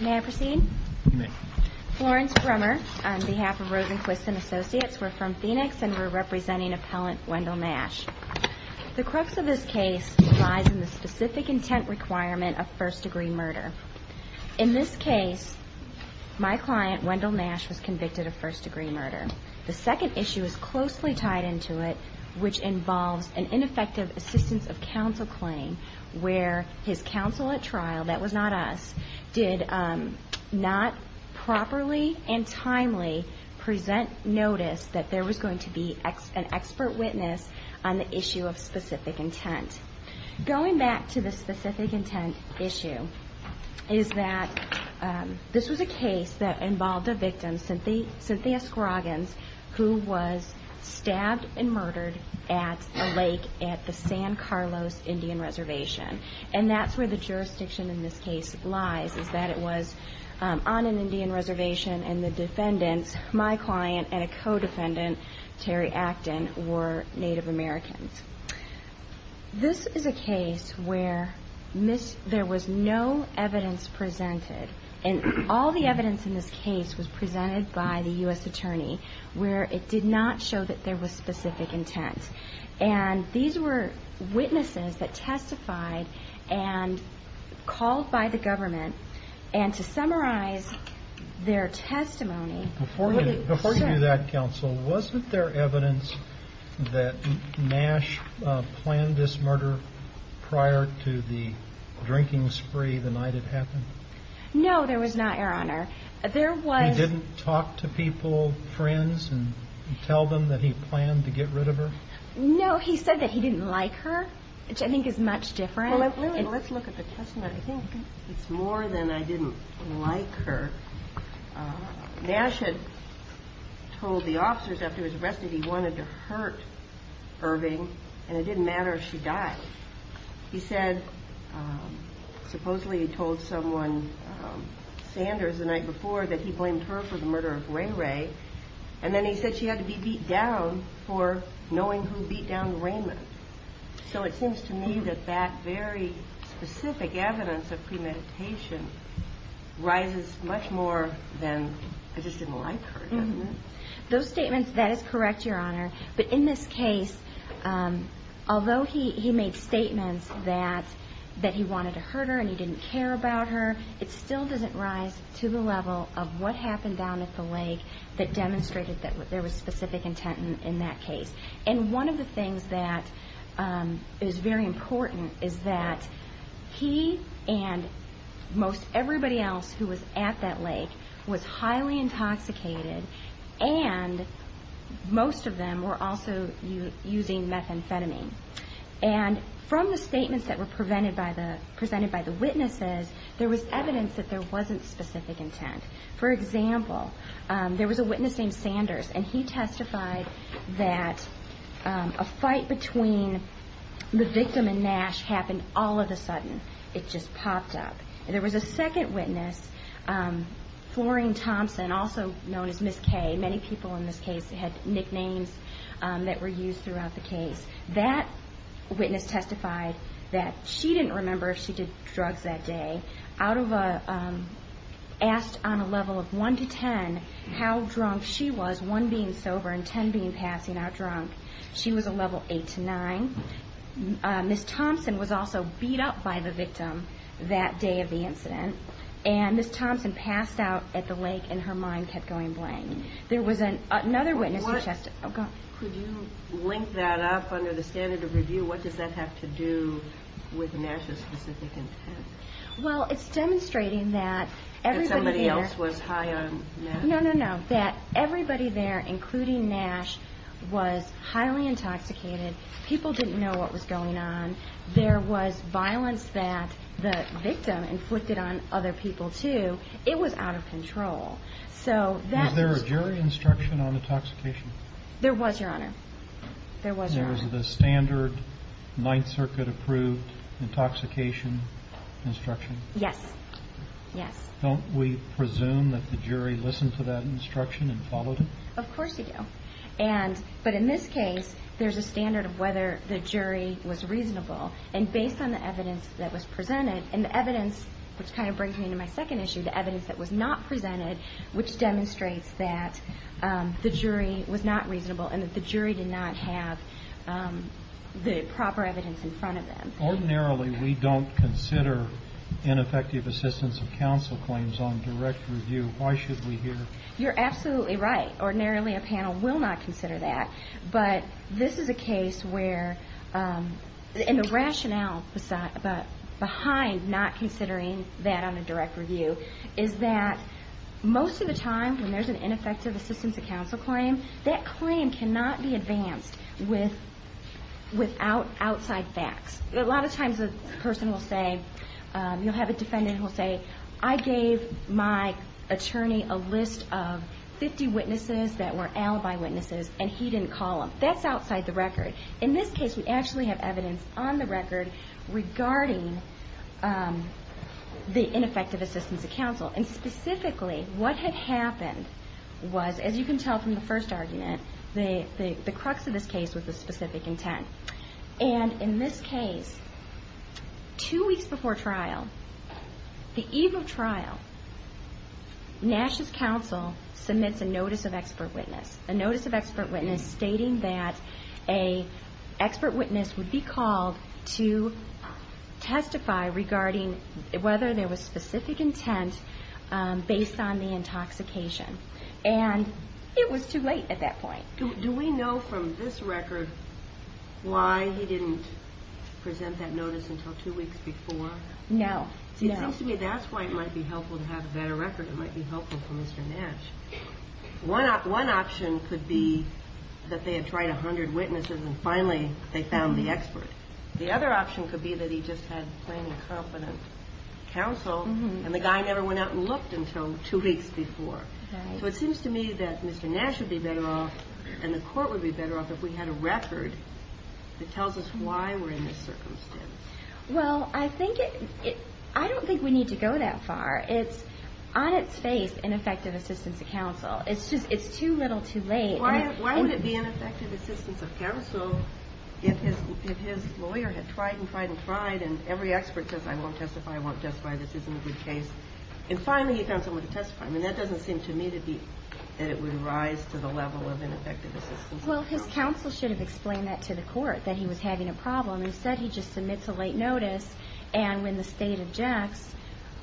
May I proceed? Florence Brummer on behalf of Rosenquist and Associates. We're from Phoenix and we're representing appellant Wendell Nash. The crux of this case lies in the specific intent requirement of first-degree murder. In this case my client Wendell Nash was convicted of first-degree murder. The second issue is closely tied into it which involves an ineffective assistance of counsel claim where his counsel at trial, that was not us, did not properly and timely present notice that there was going to be an expert witness on the issue of specific intent. Going back to the specific intent issue is that this was a case that involved a victim Cynthia Scroggins who was stabbed and murdered at a Indian Reservation. And that's where the jurisdiction in this case lies is that it was on an Indian Reservation and the defendants, my client and a co-defendant Terry Acton, were Native Americans. This is a case where there was no evidence presented and all the evidence in this case was presented by the U.S. attorney where it did not show that there was specific intent. And these were witnesses that testified and called by the government and to summarize their testimony Before you do that counsel, wasn't there evidence that Nash planned this murder prior to the drinking spree the night it happened? No there was not, your honor. There was He didn't talk to people, friends, and tell them that he planned to get rid of her? No, he said that he didn't like her, which I think is much different Let's look at the testimony. I think it's more than I didn't like her. Nash had told the officers after he was arrested that he wanted to hurt Irving and it didn't matter if she died. He said, supposedly he told someone, Sanders the night before, that he blamed her for the murder of Ray Ray and then he said that she had to be beat down for knowing who beat down Raymond. So it seems to me that that very specific evidence of premeditation rises much more than I just didn't like her, doesn't it? Those statements, that is correct, your honor. But in this case although he made statements that he wanted to hurt her and he didn't care about her it still doesn't rise to the level of what happened down at the lake that demonstrated that there was specific intent in that case. And one of the things that is very important is that he and most everybody else who was at that lake was highly intoxicated and most of them were also using methamphetamine. And from the statements that were presented by the witnesses there was evidence that there wasn't specific intent. For example, there was a witness named Sanders and he testified that a fight between the victim and Nash happened all of a sudden. It just popped up. There was a second witness, Florine Thompson, also known as Ms. Kay many people in this case had nicknames that were used throughout the case. That witness testified that she didn't remember if she did drugs that day and asked on a level of one to ten how drunk she was one being sober and ten being passing out drunk. She was a level eight to nine. Ms. Thompson was also beat up by the victim that day of the incident. And Ms. Thompson passed out at the lake and her mind kept going blank. There was another witness who testified... Could you link that up under the standard of review? What does that have to do with Nash's specific intent? Well, it's demonstrating that... That somebody else was high on Nash? No, no, no. That everybody there, including Nash, was highly intoxicated. People didn't know what was going on. There was violence that the victim inflicted on other people, too. It was out of control. Was there a jury instruction on intoxication? There was, Your Honor. There was, Your Honor. There was the standard Ninth Circuit-approved intoxication instruction? Yes. Yes. Don't we presume that the jury listened to that instruction and followed it? Of course you do. But in this case, there's a standard of whether the jury was reasonable. And based on the evidence that was presented... And the evidence, which kind of brings me into my second issue, the evidence that was not presented, which demonstrates that the jury was not reasonable and that the jury did not have the proper evidence in front of them. Ordinarily, we don't consider ineffective assistance of counsel claims on direct review. Why should we here? You're absolutely right. Ordinarily, a panel will not consider that. But this is a case where... And the rationale behind not considering that on a direct review is that most of the time, when there's an ineffective assistance of counsel claim, that claim cannot be advanced without outside facts. A lot of times, a person will say... You'll have a defendant who'll say, I gave my attorney a list of 50 witnesses that were alibi witnesses, and he didn't call them. That's outside the record. In this case, we actually have evidence on the record regarding the ineffective assistance of counsel. And specifically, what had happened was, as you can tell from the first argument, the crux of this case was the specific intent. And in this case, two weeks before trial, the eve of trial, Nash's counsel submits a notice of expert witness. A notice of expert witness stating that an expert witness would be called to testify regarding whether there was specific intent based on the intoxication. And it was too late at that point. Do we know from this record why he didn't present that notice until two weeks before? No. It seems to me that's why it might be helpful to have a better record. It might be helpful for Mr. Nash. One option could be that they had tried a hundred witnesses and finally they found the expert. The other option could be that he just had plain and confident counsel and the guy never went out and looked until two weeks before. So it seems to me that Mr. Nash would be better off and the court would be better off if we had a record that tells us why we're in this circumstance. Well, I don't think we need to go that far. It's, on its face, ineffective assistance of counsel. It's too little, too late. Why would it be ineffective assistance of counsel if his lawyer had tried and tried and tried and every expert says, I won't testify, I won't testify, this isn't a good case. And finally he found someone to testify. I mean, that doesn't seem to me to be that it would rise to the level of ineffective assistance of counsel. Well, his counsel should have explained that to the court that he was having a problem. He said he just submits a late notice and when the state objects,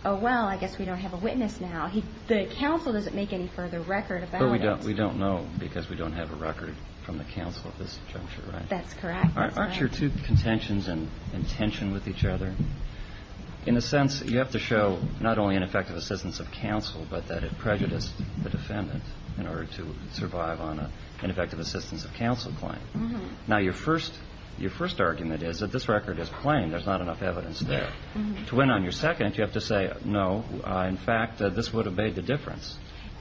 oh well, I guess we don't have a witness now. The counsel doesn't make any further record about it. But we don't know because we don't have a record from the counsel at this juncture, right? That's correct. Aren't your two contentions in tension with each other? In a sense, you have to show not only ineffective assistance of counsel but that it prejudiced the defendant in order to survive on an ineffective assistance of counsel claim. Now, your first argument is that this record is plain. There's not enough evidence there. To win on your second, you have to say, no, in fact, this would have made the difference.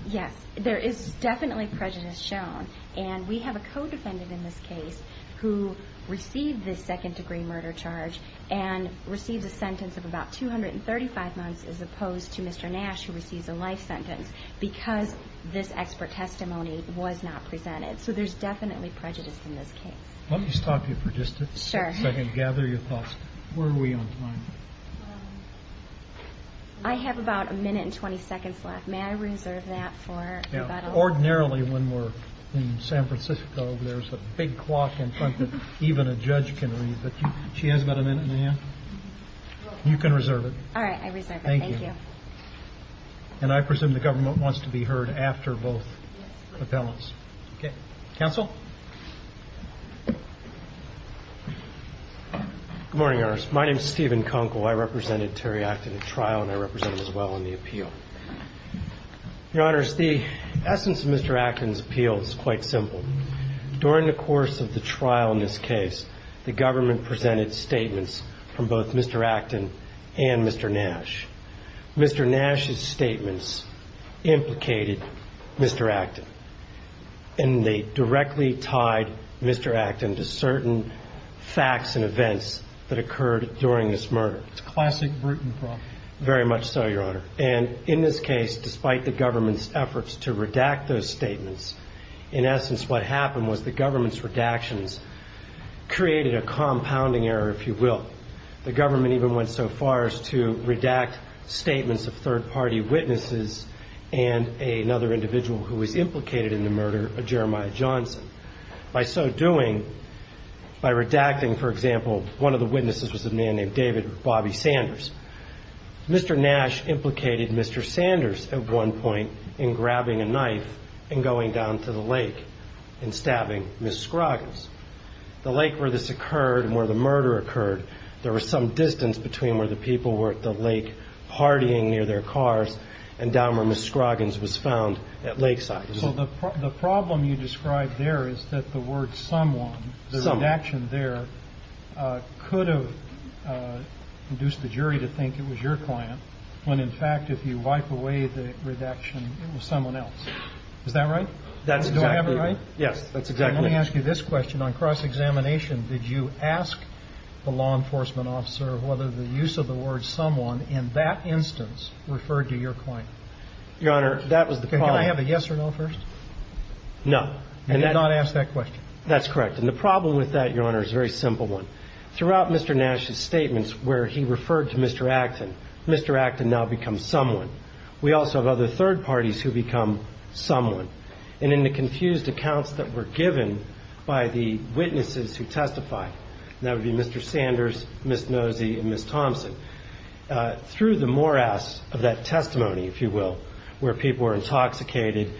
Yes, there is definitely prejudice shown. And we have a co-defendant in this case who received this second degree murder charge and received a sentence of about 235 months as opposed to Mr. Nash who receives a life sentence because this expert testimony was not presented. So there's definitely prejudice in this case. Let me stop you for just a second and gather your thoughts. Where are we on time? I have about a minute and 20 seconds left. May I reserve that for rebuttal? Ordinarily, when we're in San Francisco, there's a big clock in front that even a judge can read. But she has about a minute, ma'am. You can reserve it. All right, I reserve it. Thank you. And I presume the government wants to be heard after both appellants. Okay. Counsel? Good morning, Your Honors. My name is Stephen Konkel. I represented Terry Acton at trial and I represented as well on the appeal. Your Honors, the essence of Mr. Acton's appeal is quite simple. During the course of the trial in this case, the government presented statements from both Mr. Acton and Mr. Nash. Mr. Nash's statements implicated Mr. Acton. And they directly tied Mr. Acton to certain facts and events that occurred during this murder. It's a classic Bruton problem. Very much so, Your Honor. And in this case, despite the government's efforts to redact those statements, in essence what happened was the government's redactions created a compounding error, if you will. The government even went so far as to redact statements of third-party witnesses and another individual who was implicated in the murder of Jeremiah Johnson. By so doing, by redacting, for example, one of the witnesses was a man named David Bobby Sanders. Mr. Nash implicated Mr. Sanders at one point in grabbing a knife and going down to the lake and stabbing Ms. Scroggins. The lake where this occurred, where the murder occurred, there was some distance between where the people were at the lake partying near their cars and down where Ms. Scroggins was found at lakeside. So the problem you described there is that the word someone, the redaction there, could have induced the jury to think it was your client, when in fact, if you wipe away the redaction, it was someone else. Is that right? Do I have it right? Yes, that's exactly right. Let me ask you this question. On cross-examination, did you ask the law enforcement officer whether the use of the word someone in that instance referred to your client? Your Honor, that was the problem. Can I have a yes or no first? And did not ask that question? That's correct. And the problem with that, Your Honor, is a very simple one. Throughout Mr. Nash's statements where he referred to Mr. Acton, Mr. Acton now becomes someone. We also have other third parties who become someone. And in the confused accounts that were given by the witnesses who testified, that would be Mr. Sanders, Ms. Nosy, and Ms. Thompson, through the morass of that testimony, if you will, where people were intoxicated,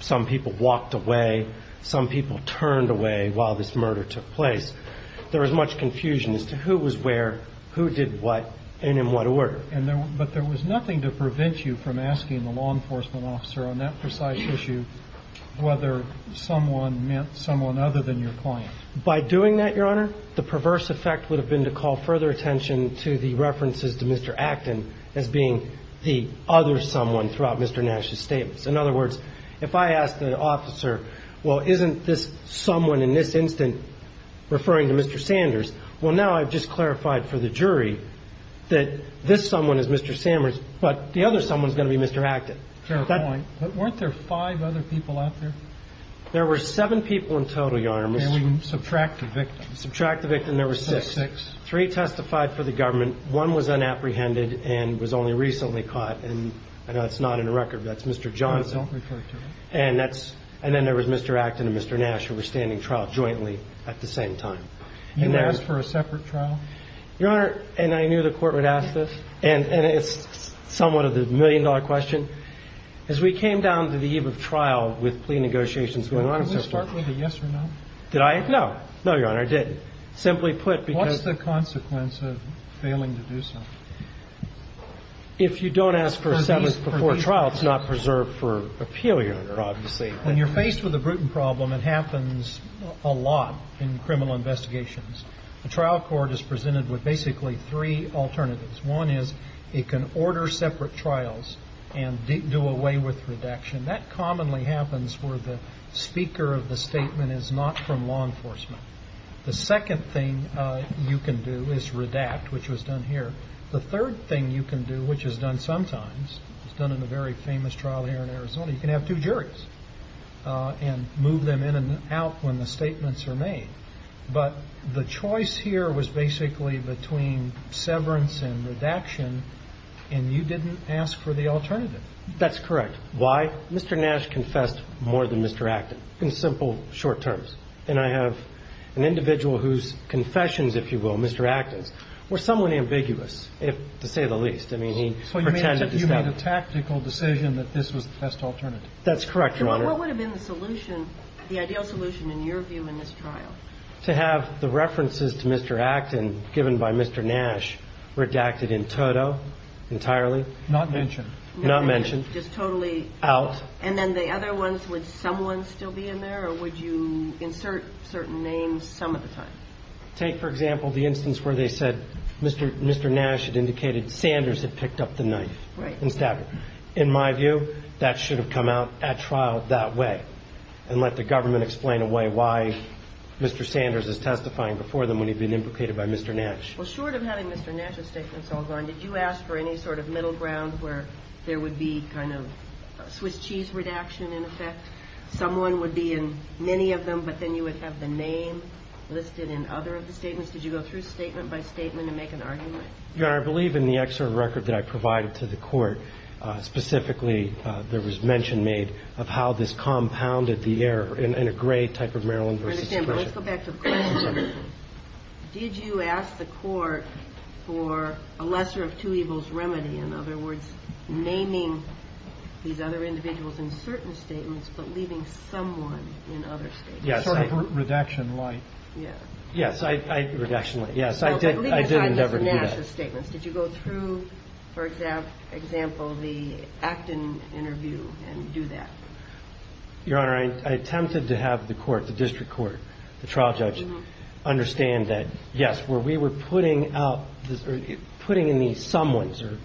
some people walked away, some people turned away while this murder took place, there was much confusion as to who was where, who did what, and in what order. But there was nothing to prevent you from asking the law enforcement officer on that precise issue whether someone meant someone other than your client. By doing that, Your Honor, the perverse effect would have been to call further attention to the references to Mr. Acton as being the other someone throughout Mr. Nash's statements. In other words, if I asked an officer, well, isn't this someone in this instant referring to Mr. Sanders, well, now I've just clarified for the jury that this someone is Mr. Sanders, but the other someone is going to be Mr. Acton. Fair point. But weren't there five other people out there? There were seven people in total, Your Honor. And we subtract the victim. Subtract the victim, there were six. Three testified for the government, one was unapprehended and was only recently caught, and I know it's not in the record, but that's Mr. Johnson. Don't refer to him. And then there was Mr. Acton and Mr. Nash who were standing trial jointly at the same time. You asked for a separate trial? Your Honor, and I knew the court would ask this, and it's somewhat of the million dollar question, but as we came down to the eve of trial with plea negotiations going on and so forth... Did we start with a yes or no? Did I? No. No, Your Honor, I didn't. Simply put, because... What's the consequence of failing to do so? If you don't ask for a seventh before trial, it's not preserved for appeal, Your Honor, obviously. When you're faced with a Bruton problem, it happens a lot in criminal investigations. The trial court is presented with basically three alternatives. One is it can order separate trials and do away with redaction. That commonly happens where the speaker of the statement is not from law enforcement. The second thing you can do is redact, which was done here. The third thing you can do, which is done sometimes, is done in a very famous trial here in Arizona. You can have two juries and move them in and out when the statements are made. But the choice here was basically between severance and redaction, and you didn't ask for the alternative. That's correct. Why? Mr. Nash confessed more than Mr. Acton in simple, short terms. And I have an individual whose confessions, if you will, Mr. Acton's, were somewhat ambiguous, to say the least. I mean, he pretended to say it. So you made a tactical decision that this was the best alternative. That's correct, Your Honor. And what would have been the solution, the ideal solution in your view in this trial? To have the references to Mr. Acton given by Mr. Nash redacted in toto, entirely? Not mentioned. Not mentioned. Just totally... Out. And then the other ones, would someone still be in there or would you insert certain names some of the time? Take, for example, the instance where they said Mr. Nash had indicated Sanders had picked up the knife and stabbed him. In my view, that should have come out at trial that way. And let the government explain away why Mr. Sanders is testifying before them when he'd been implicated by Mr. Nash. Well, short of having Mr. Nash's statements all gone, did you ask for any sort of middle ground where there would be kind of a Swiss cheese redaction in effect? Someone would be in many of them but then you would have the name listed in other of the statements? Did you go through statement by statement and make an argument? Your Honor, I believe in the extra record that I provided to the court, specifically, there was mention made of how this compounded the error in a gray type of Maryland versus... I understand, but let's go back to the question. Did you ask the court for a lesser degree of two evils remedy? In other words, naming these other individuals in certain statements but leaving someone in other statements? Yes. Redaction light. Yes. Redaction light. Yes, I did endeavor to do that. Did you go through, for example, the Acton interview and do that? I attempted to have the court, the district court, the trial judge, understand that, yes, where we were putting out, putting in these statements or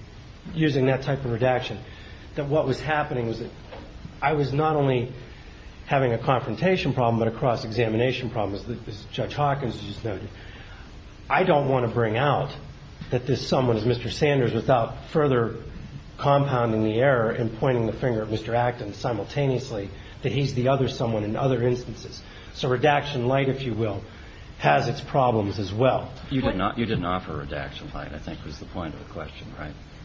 using that type of redaction, that what was happening was that I was not only having a confrontation problem but a cross-examination problem, as Judge Hawkins just noted. I don't want to bring out that this someone is Mr. Sanders without further compounding the error and pointing the finger at Mr. Acton simultaneously that he's the other someone in other instances. So redaction light, if you will, has its problems as well. You did not offer redaction light, I think, was the point of the question.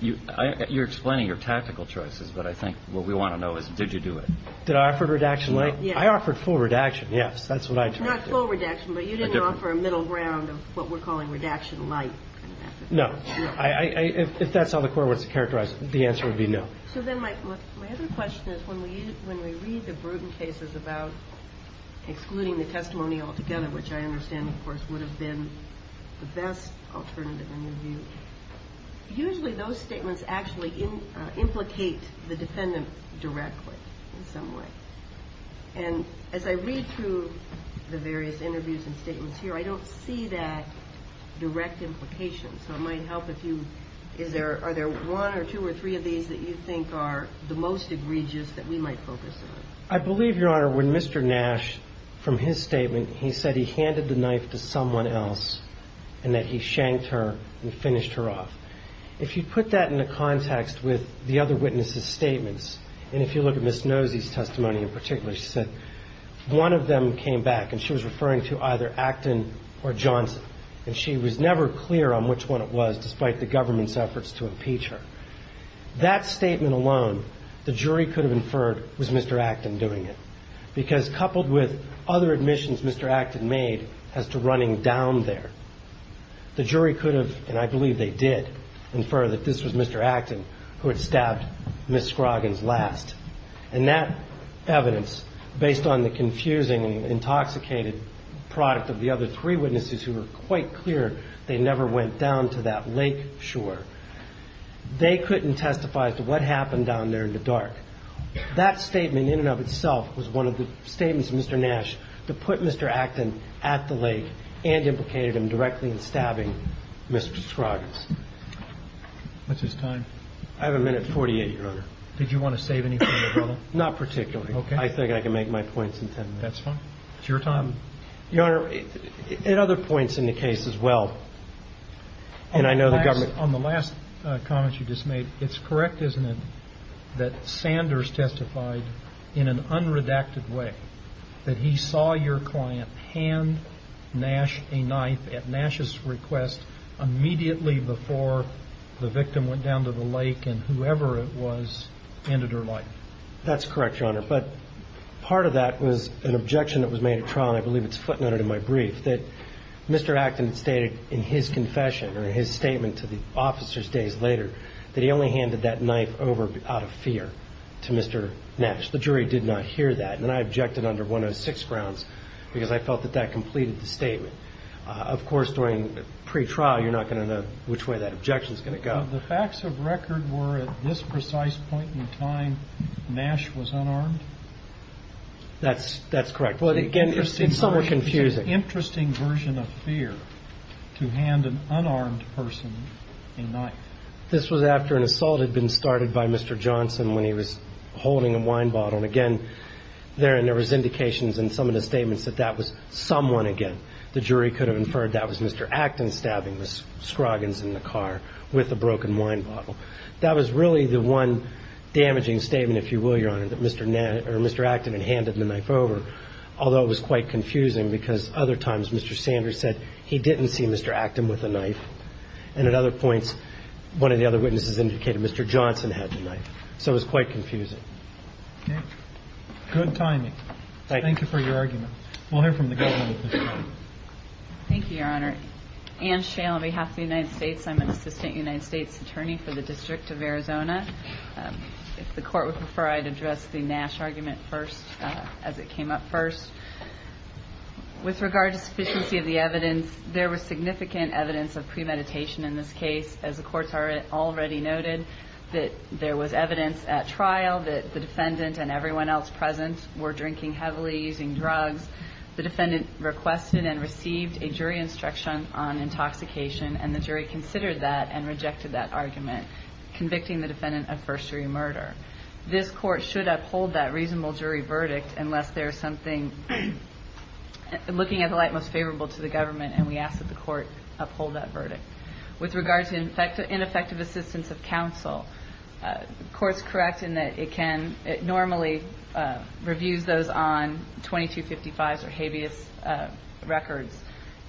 You're explaining your tactical choices but I think what we want to know is did you do it? Did I offer redaction light? I offered full redaction, yes, that's what I tried to do. Not full redaction but you didn't offer a middle ground of what we're calling redaction light. No, if that's how the court would characterize it, the answer would be no. My other question is when we read the Bruton cases about excluding the testimony altogether, which I understand of course would have been the best alternative in your view, usually those statements actually implicate the defendant directly in some way. And as I read through the various interviews and statements here, I don't see that direct implication so it might help if you, are there one or two or three of these that you think are the most egregious that we might focus on? I believe, Your Honor, when Mr. Nash from his statement, he said he handed the knife to someone else and that he shanked her and finished her off. If you put that into context with the other witnesses' statements and if you look at Ms. Nosy's testimony in particular, she said one of them came back and she was referring to either Acton or Johnson and she was never clear on which one it was despite the government's efforts to impeach her. That statement alone, the jury could have inferred was Mr. Acton doing it because coupled with other admissions Mr. Acton made as to running down there, the jury could have, and I believe they did, infer that this was Mr. Acton who had stabbed Ms. Scroggins last. And that evidence, based on the confusing, intoxicated product of the other three witnesses who were quite clear they never went down to that lake shore, they couldn't testify to what happened down there in the dark. That statement in and of itself was one of the statements of Mr. Nash to put Mr. Acton at the lake and implicated him directly in stabbing Ms. Scroggins. What's his time? I have a minute 48, Your Honor. Did you want to save anything, Your Honor? Not particularly. Okay. I think I can make my points in ten minutes. That's fine. It's your time. Your Honor, at other points in the case as well, and I know the government... On the last comment you just made, it's correct, isn't it, that Sanders testified in an unredacted way that he saw your knife, that he saw Mr. Nash's request immediately before the victim went down to the lake and whoever it was ended her life? That's correct, Your Honor, but part of that was an objection that was made at trial, and I believe it's footnoted in my brief, that Mr. Acton stated in his confession or his statement to the officers days later that he only holding a wine bottle. If you were to testify in pre-trial, you're not going to know which way that objection is going to go. The facts of record were at this precise point in time, Nash was unarmed? That's correct, but again, it's somewhat confusing. It's an objection to Mr. Acton stabbing Mr. Scroggins in the car with a broken wine bottle. That was really the one damaging statement, if you will, Your Honor, that Mr. Acton had handed the knife over, although it was quite confusing because other times Mr. Sanders said he didn't see Mr. Acton with a knife, and at other points, one of the other witnesses indicated Mr. Johnson had the knife, so it was quite confusing. Okay, good timing. Thank you for your argument. We'll hear from the government at this point. Thank you, Your Honor. Ann Shale, on behalf of the United States, I'm an assistant United States attorney for the District of Arizona. If the court would prefer, I'd address the issue of first-degree meditation in this case. As the courts already noted, there was evidence at trial that the defendant and everyone else present were drinking heavily, using drugs. The defendant requested and received a jury instruction on intoxication, and the jury considered that and rejected that argument, convicting the defendant of first-degree murder. This court should uphold that reasonable jury verdict unless there's something looking at the light most favorable to the government, and we ask that the court uphold that verdict. With regard to ineffective assistance of counsel, the court's correct in that it normally reviews those on 2255s or habeas records.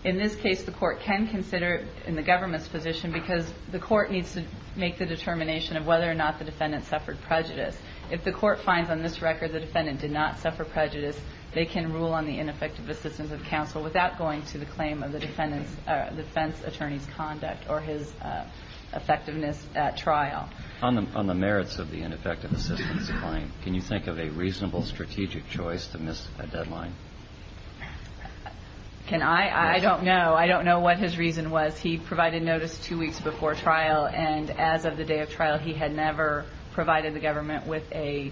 In this case, the court can consider it in the government's position because the court needs to make the determination of whether or not the defendant suffered prejudice. If the court finds on this record the defendant did not suffer prejudice, they can rule on the ineffective assistance of counsel without going to the claim of the defendant's defense attorney's conduct or his effectiveness at trial. On the merits of the ineffective assistance claim, can you think of a reasonable strategic choice to miss a deadline? Can I? I don't know. I don't know what his reason was. He provided notice two weeks before trial, and as of the day of trial, he had never provided the government with a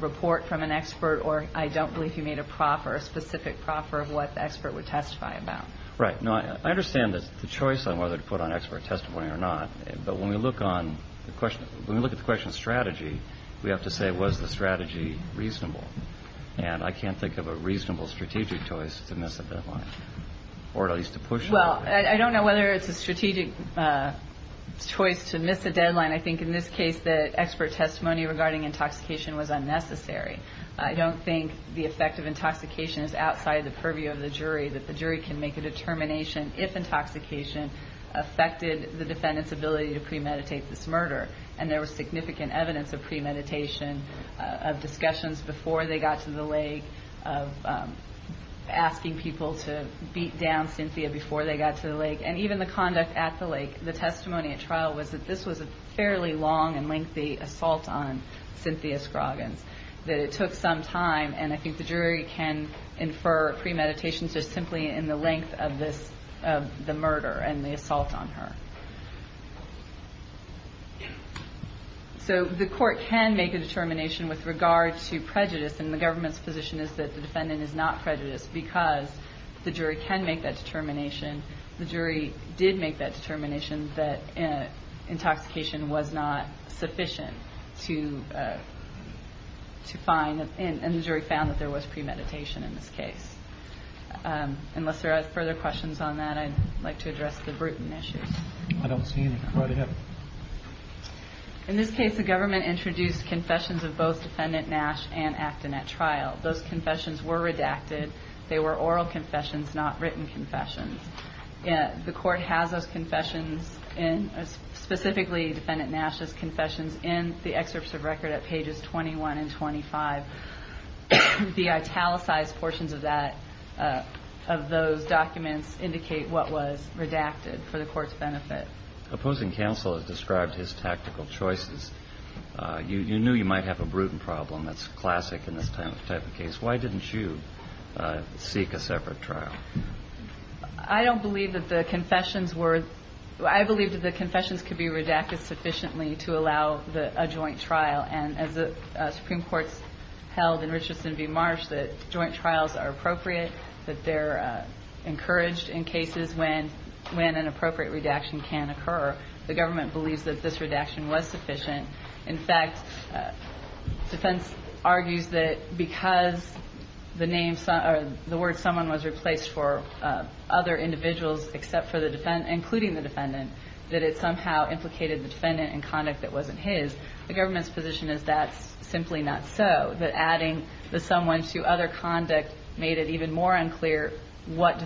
report from an expert, or I don't believe he made a proffer, a specific proffer of what the expert would testify about. Right. No, I understand the choice on whether to put on not, but when we look at the question of strategy, we have to say, was the strategy reasonable? And I can't think of a reasonable strategic choice to miss a deadline. I think in this case, the expert testimony regarding intoxication was unnecessary. I don't think the effect of intoxication is outside the purview of the jury, that the jury can make a determination if intoxication affected the defendant's ability to premeditate this murder, and there premeditation, of discussions before they got to the lake, of asking people to beat down Cynthia before they got to the lake, and even the court did not have any evidence of premeditation. The jury's conduct at the lake, the testimony at trial was that this was a fairly long and lengthy assault on Cynthia Scroggins, that it took some time, and I think the jury can infer premeditation is simply in the length of the murder and the assault on her. So the court can make a determination with regard to prejudice, and the government's position is that the defendant is not prejudiced because the jury can make that determination. The jury did make that determination that intoxication was not sufficient to find, and the jury found that there was premeditation in this case. Unless there are further questions on that, I'd like to address the Bruton issues. I don't see any. Go right ahead. In this case, the government introduced confessions of both defendant Nash and Acton at the time. They were oral confessions, not written confessions. The court has those confessions specifically defendant Nash's confessions in the excerpts of record at pages 21 and 25. The italicized portions of that, of those documents indicate what was redacted for the court's benefit. Opposing counsel has described his tactical choices. You knew you might have a Bruton problem. That's classic in this type of case. Why didn't you seek a separate trial? I don't believe that the confessions were I believe that the confessions could be redacted sufficiently to allow a joint trial. And as the Supreme Court held in Richardson v. Marsh, that joint trials are appropriate, that they're encouraged in cases when an appropriate redaction can occur. The government believes that this redaction was sufficient. In fact, defense argues that because the word someone was replaced for other individuals except for the defendant, including the defendant, that it somehow implicated the defendant in conduct that wasn't his, the government's position is that's simply not so, that adding the someone to other conduct made it even more unclear what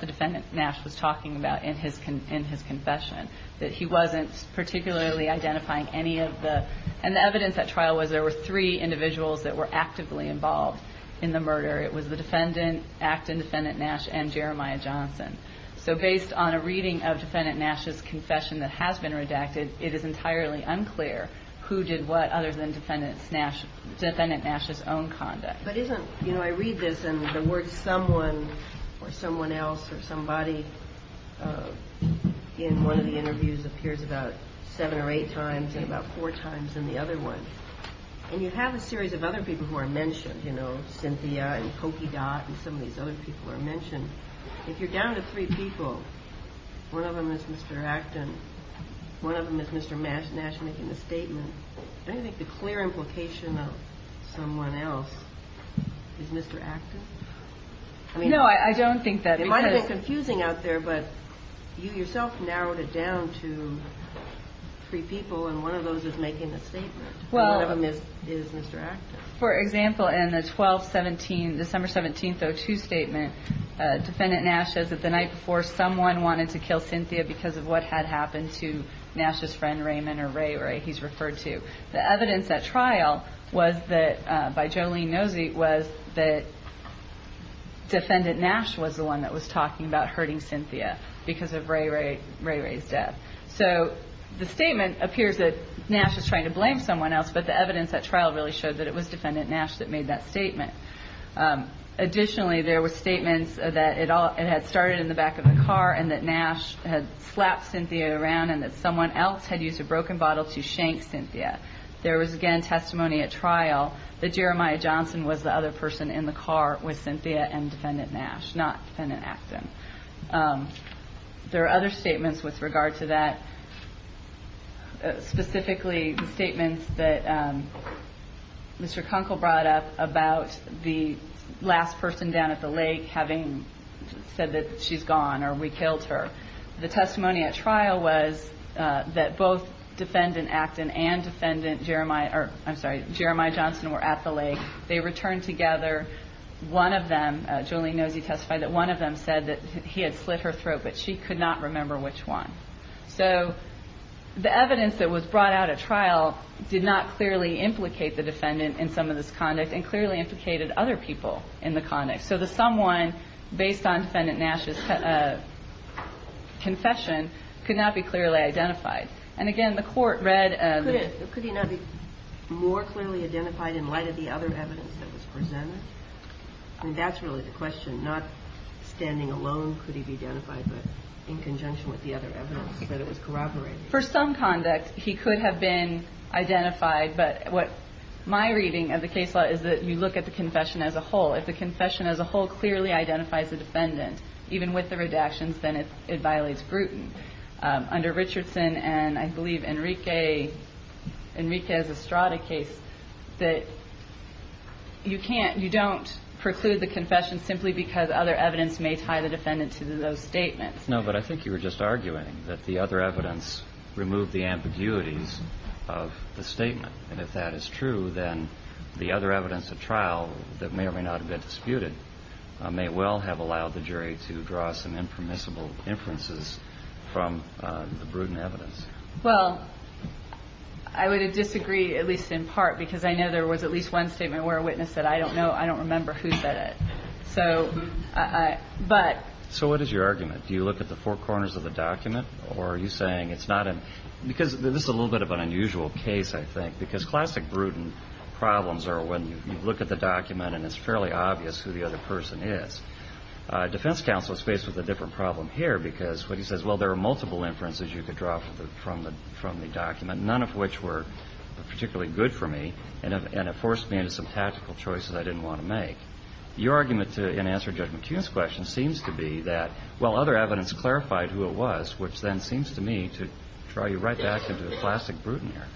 the defendant, Nash, was talking about in his confession, that he wasn't particularly identifying any of the, and the evidence at trial was there were three individuals that were actively involved in the murder. It was the defendant, act and defendant Nash, and Jeremiah Johnson. So based on a reading of defendant Nash's confession that has been redacted, it is entirely unclear who did what other than defendant Nash's own conduct. But isn't, you know, I read this and the word someone or someone else or somebody in one of the interviews appears about seven or eight times and about four times in the other one. And you have a series of other people who are mentioned, you know, Cynthia and Pokey Dot and some of these other people are mentioned. If you're down to three people, one of them is Mr. Acton, one of them is Mr. Nash, Nash making the statement. I think the clear implication of someone else is Mr. Acton. No, I don't think that. It might have been confusing out there, but you yourself narrowed it down to three people and one of those is making the statement. One of them is Mr. Acton. For example, in the 12-17, December 17th, 02 statement, defendant Nash says that the night before someone wanted to kill Cynthia because of what had happened to Nash's friend Raymond or something like The other statement by Jolene Nozick was that defendant Nash was the one that was talking about hurting Cynthia because of Ray Ray's death. The statement appears that Nash was trying to blame someone else, but the evidence at trial really showed that it was defendant Nash that made that statement. Additionally, there were statements that it had started in the back of the trial that Jeremiah Johnson was the other person in the car with Cynthia and defendant Nash, not defendant Acton. There are other statements with regard to that. Specifically, the statements that Mr. Kunkel brought up about the last person down at the lake having said that she's gone or we killed her. The testimony at trial was that both defendant Acton and defendant Jeremiah or, I'm sorry, Jeremiah Johnson were at the lake. They returned together. One of them, Jolene knows he testified, that one of them said that he had slit her throat, but she could not remember which one. So the evidence that was brought out at trial did not clearly implicate the defendant in some of this conduct and clearly implicated other people in the conduct. So the someone based on defendant Nash's confession could not be clearly identified. And again, the court read the... Could he not be more clearly identified in light of the other evidence that was presented? I mean, that's really the question, not standing alone could he be identified, but in conjunction with the other evidence that was corroborated? For some conduct, he could have been identified, but what my reading of the case law is that you look at the confession as a whole. If the confession as a whole clearly identifies the defendant, even with the redactions, then it could be that the other evidence removed the ambiguities of the statement. And if that is true, then the other evidence of trial that may or may not have been disputed may well have allowed the jury to draw some impermissible inferences from the prudent evidence. Well, I would disagree, at least in part, because I know there was at least one statement where a witness said, I don't know, I don't remember who said it. So what is your argument? Do you look at the four multiple inferences you could draw from the document, none of which were particularly good for me, and it forced me into some tactical choices I didn't want to make? Your argument in answering Judge McKeon's question seems to be that while other evidence clarified who it was, which then seems to me to draw you right back into the plastic brood in here.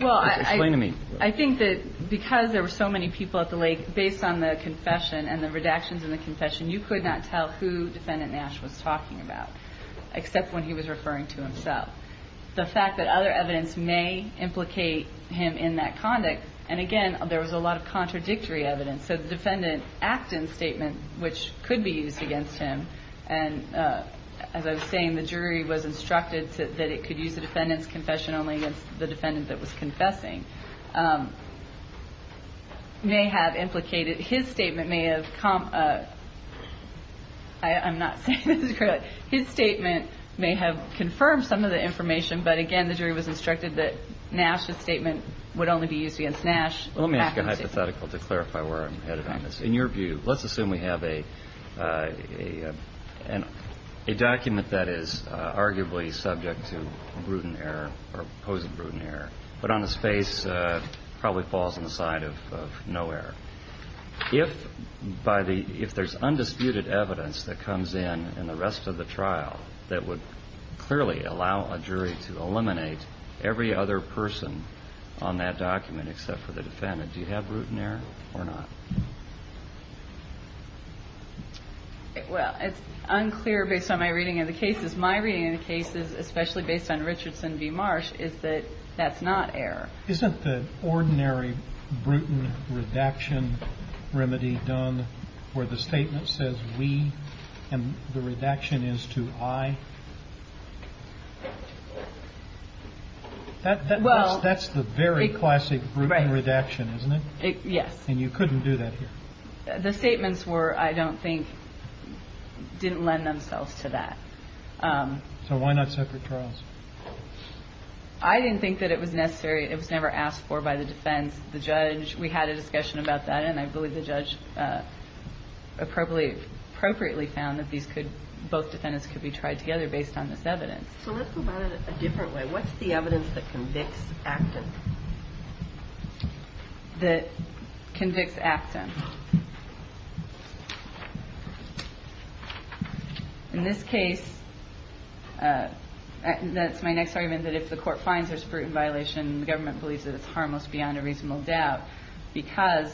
Well, I think that because there were so many people at the lake, based on the confession and the redactions in the confession, you could not tell who Defendant Nash was talking about, except when he was saying that it could use the Defendant's confession only against the Defendant that was confessing. His statement may have confirmed some of the information, but, again, the jury was instructed that Nash's statement would only be used against Nash. Let me ask a hypothetical to clarify where I'm headed on this. In your view, let's assume we have a document that is arguably subject to prudent error, but on the space probably falls on the side of no error. If there's undisputed evidence that comes in in the rest of the trial that would clearly allow a jury to eliminate every other person on that document except for the Defendant, do you have any that's not error? Well, it's unclear based on my reading of the cases. My reading of the cases, especially based on Richardson v. Marsh, is that that's not error. Isn't the ordinary prudent redaction remedy done where the statement says we and the redaction is to I? That's the very classic prudent redaction, isn't it? Yes. And you couldn't do that here? The statements were, I don't think, didn't lend themselves to that. So why not separate trials? I didn't think that it was necessary. It was never asked for by the defense. The judge, we had a discussion about that and I believe the judge appropriately found that both defendants could be tried together based on this evidence. So let's go about it a different way. What's the evidence that convicts active? That convicts active. In this case, that's my next argument, that if the court finds there's prudent violation, the government believes that it's harmless beyond a reasonable doubt because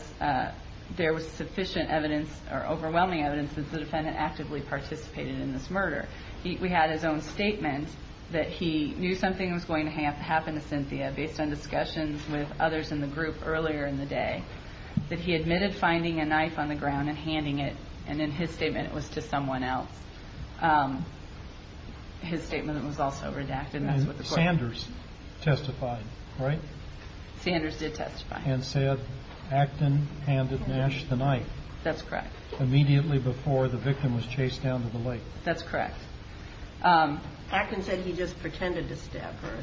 there was sufficient evidence or evidence that the defendant participated in this murder. We had his own statement that he knew something was going to happen to Cynthia based on discussions with others in the group earlier in the day, that he admitted finding a knife on the ground and handing it and in his statement it was to someone else. His statement was also that he to the lake. That's correct. Acton said he just pretended to stab her.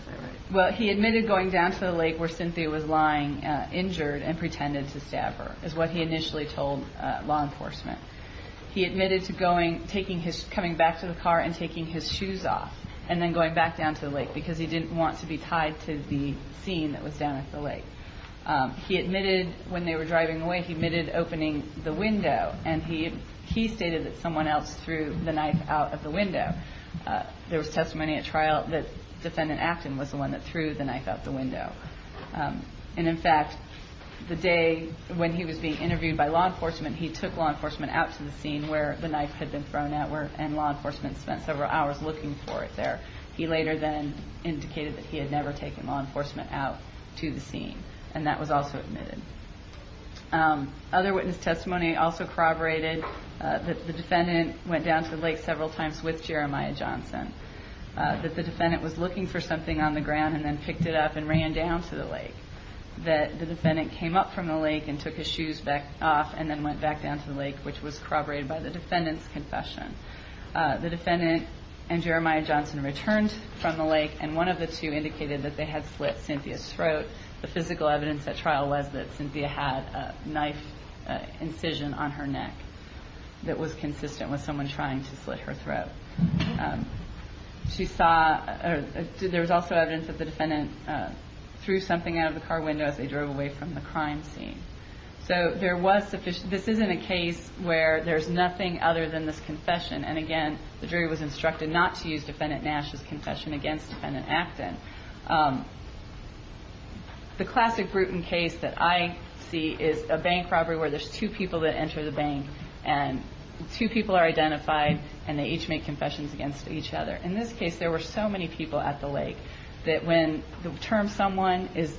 He admitted going down to the lake where Cynthia was lying injured and pretended to stab her. He admitted coming back to the car and taking his knife out of the window. There was testimony at trial that defendant was the one that threw the knife out of the window. In fact, the day when he was being interviewed by law enforcement he took law enforcement out to the scene where the knife was He admitted going down to the lake several times with Jeremiah Johnson. The defendant was looking for something on the ground and picked it up and ran down to the lake. The defendant came up from the lake and took his shoes off and went down to the lake. The defendant and Jeremiah Johnson returned from the lake and one of the two indicated they had slit Cynthia's throat. The physical evidence was that Cynthia had a knife incision on her neck that was consistent with her confession. The jury was instructed not to use defendant Nash's confession against defendant Acton. The classic case that I see is a bank robbery where there are two people that enter the bank and two people are identified and they each make confessions against each other. In this case there were so many people at the lake that when the term someone is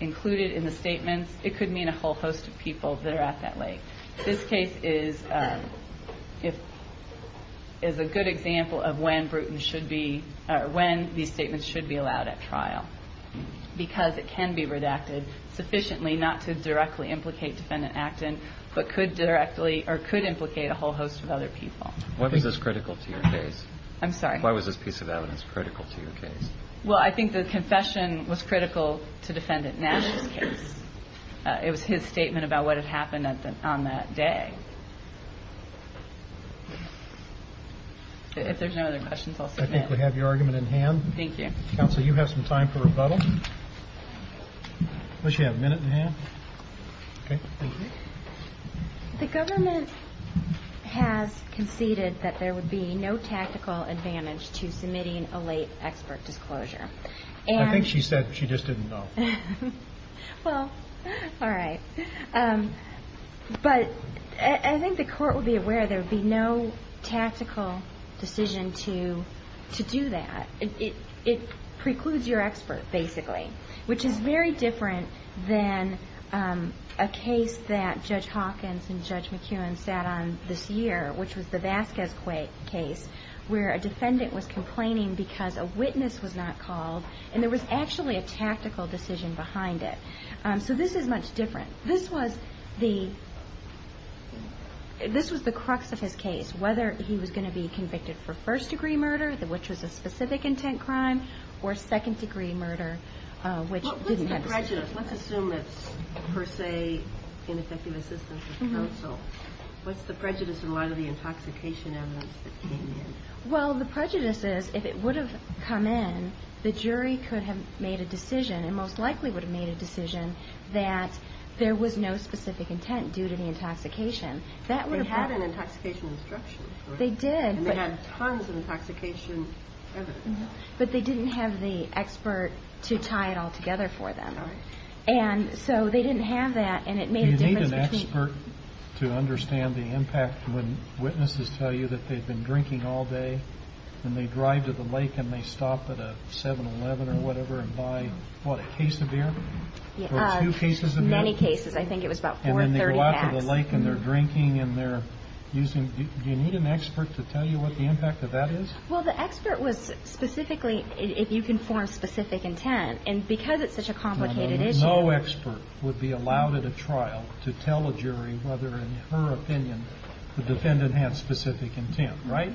included in the statements it could mean a whole host of people that are at that lake. This case is a good example of when these statements should be allowed at trial. Because it can be redacted sufficiently not to directly implicate defendant Acton but could implicate a whole host of other people. I think the confession was critical to defendant Nash's case. It was his statement about what had happened on that day. If there are no other questions I will submit them. I think we have your argument in hand. Thank you. Counsel you have some time for rebuttal. Unless you have a minute in hand. The government has conceded that there would be no tactical advantage to submitting a late expert disclosure. I think she said she just didn't know. All right. But I think the court would be aware there would be no tactical decision to do that. It precludes your expert basically. Which is very different than a case that judge Hawkins and judge McEwen sat on this year, which was the Vasquez case where a defendant was complaining because a witness was not called and there was actually a tactical decision behind it. This is much different. This was the crux of his case, whether he was going to be convicted for first degree murder which was a specific intent crime or second degree murder which didn't have a specific intent. court would not be able to do that. And that's why I think the court would be aware that the defense was not going to be able to do that. And so they didn't have that and it made a difference. Do you need an expert to understand the impact when witnesses tell you that they have been drinking all day and they drive to the lake and they stop at a 7-Eleven or whatever and buy, what, a case of beer or two cases of beer? And they go out to the lake and they're drinking and they're using, do you need an expert to tell you what the impact of that is? Well, the expert was specifically, if you can intent, and because it's such a complicated issue. No expert would be allowed at a trial to tell a jury whether in her opinion the defendant could have specific intent, right?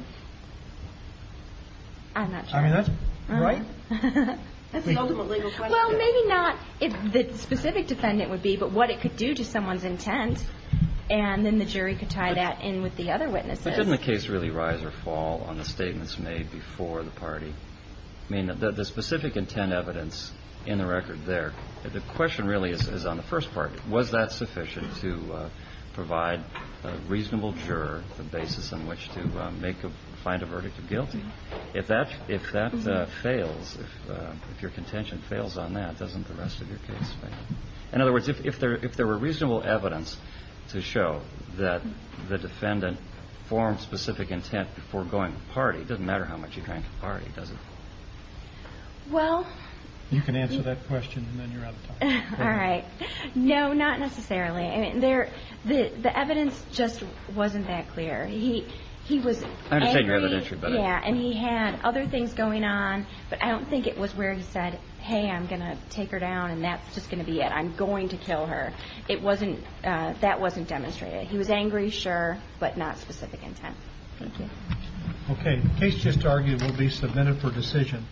I'm not sure. Right? That's the ultimate legal question. Well, maybe not if the specific defendant would be, but what it could do to someone's intent and then the jury could tie that in with the other witnesses. But doesn't the case really rise or fall on the statements made before the party? I mean, the question really is on the first part. Was that sufficient to provide a reasonable juror the basis on which to find a verdict of guilty? If that fails, if your contention fails on that, doesn't the rest of your case fail? In other words, if there were reasonable evidence to show that the defendant formed specific intent before going to the party, it doesn't matter how much you drank at the party, does it? Well... You can answer that question and then you're out of time. All right. No, not necessarily. The evidence just wasn't that clear. He was angry and he had other things going on, but I don't think it was where he said, hey, I'm just going to be it. I'm going to kill her. That wasn't demonstrated. He was angry, sure, but not specific intent. Thank you. Okay. The case just argued will be submitted for decision.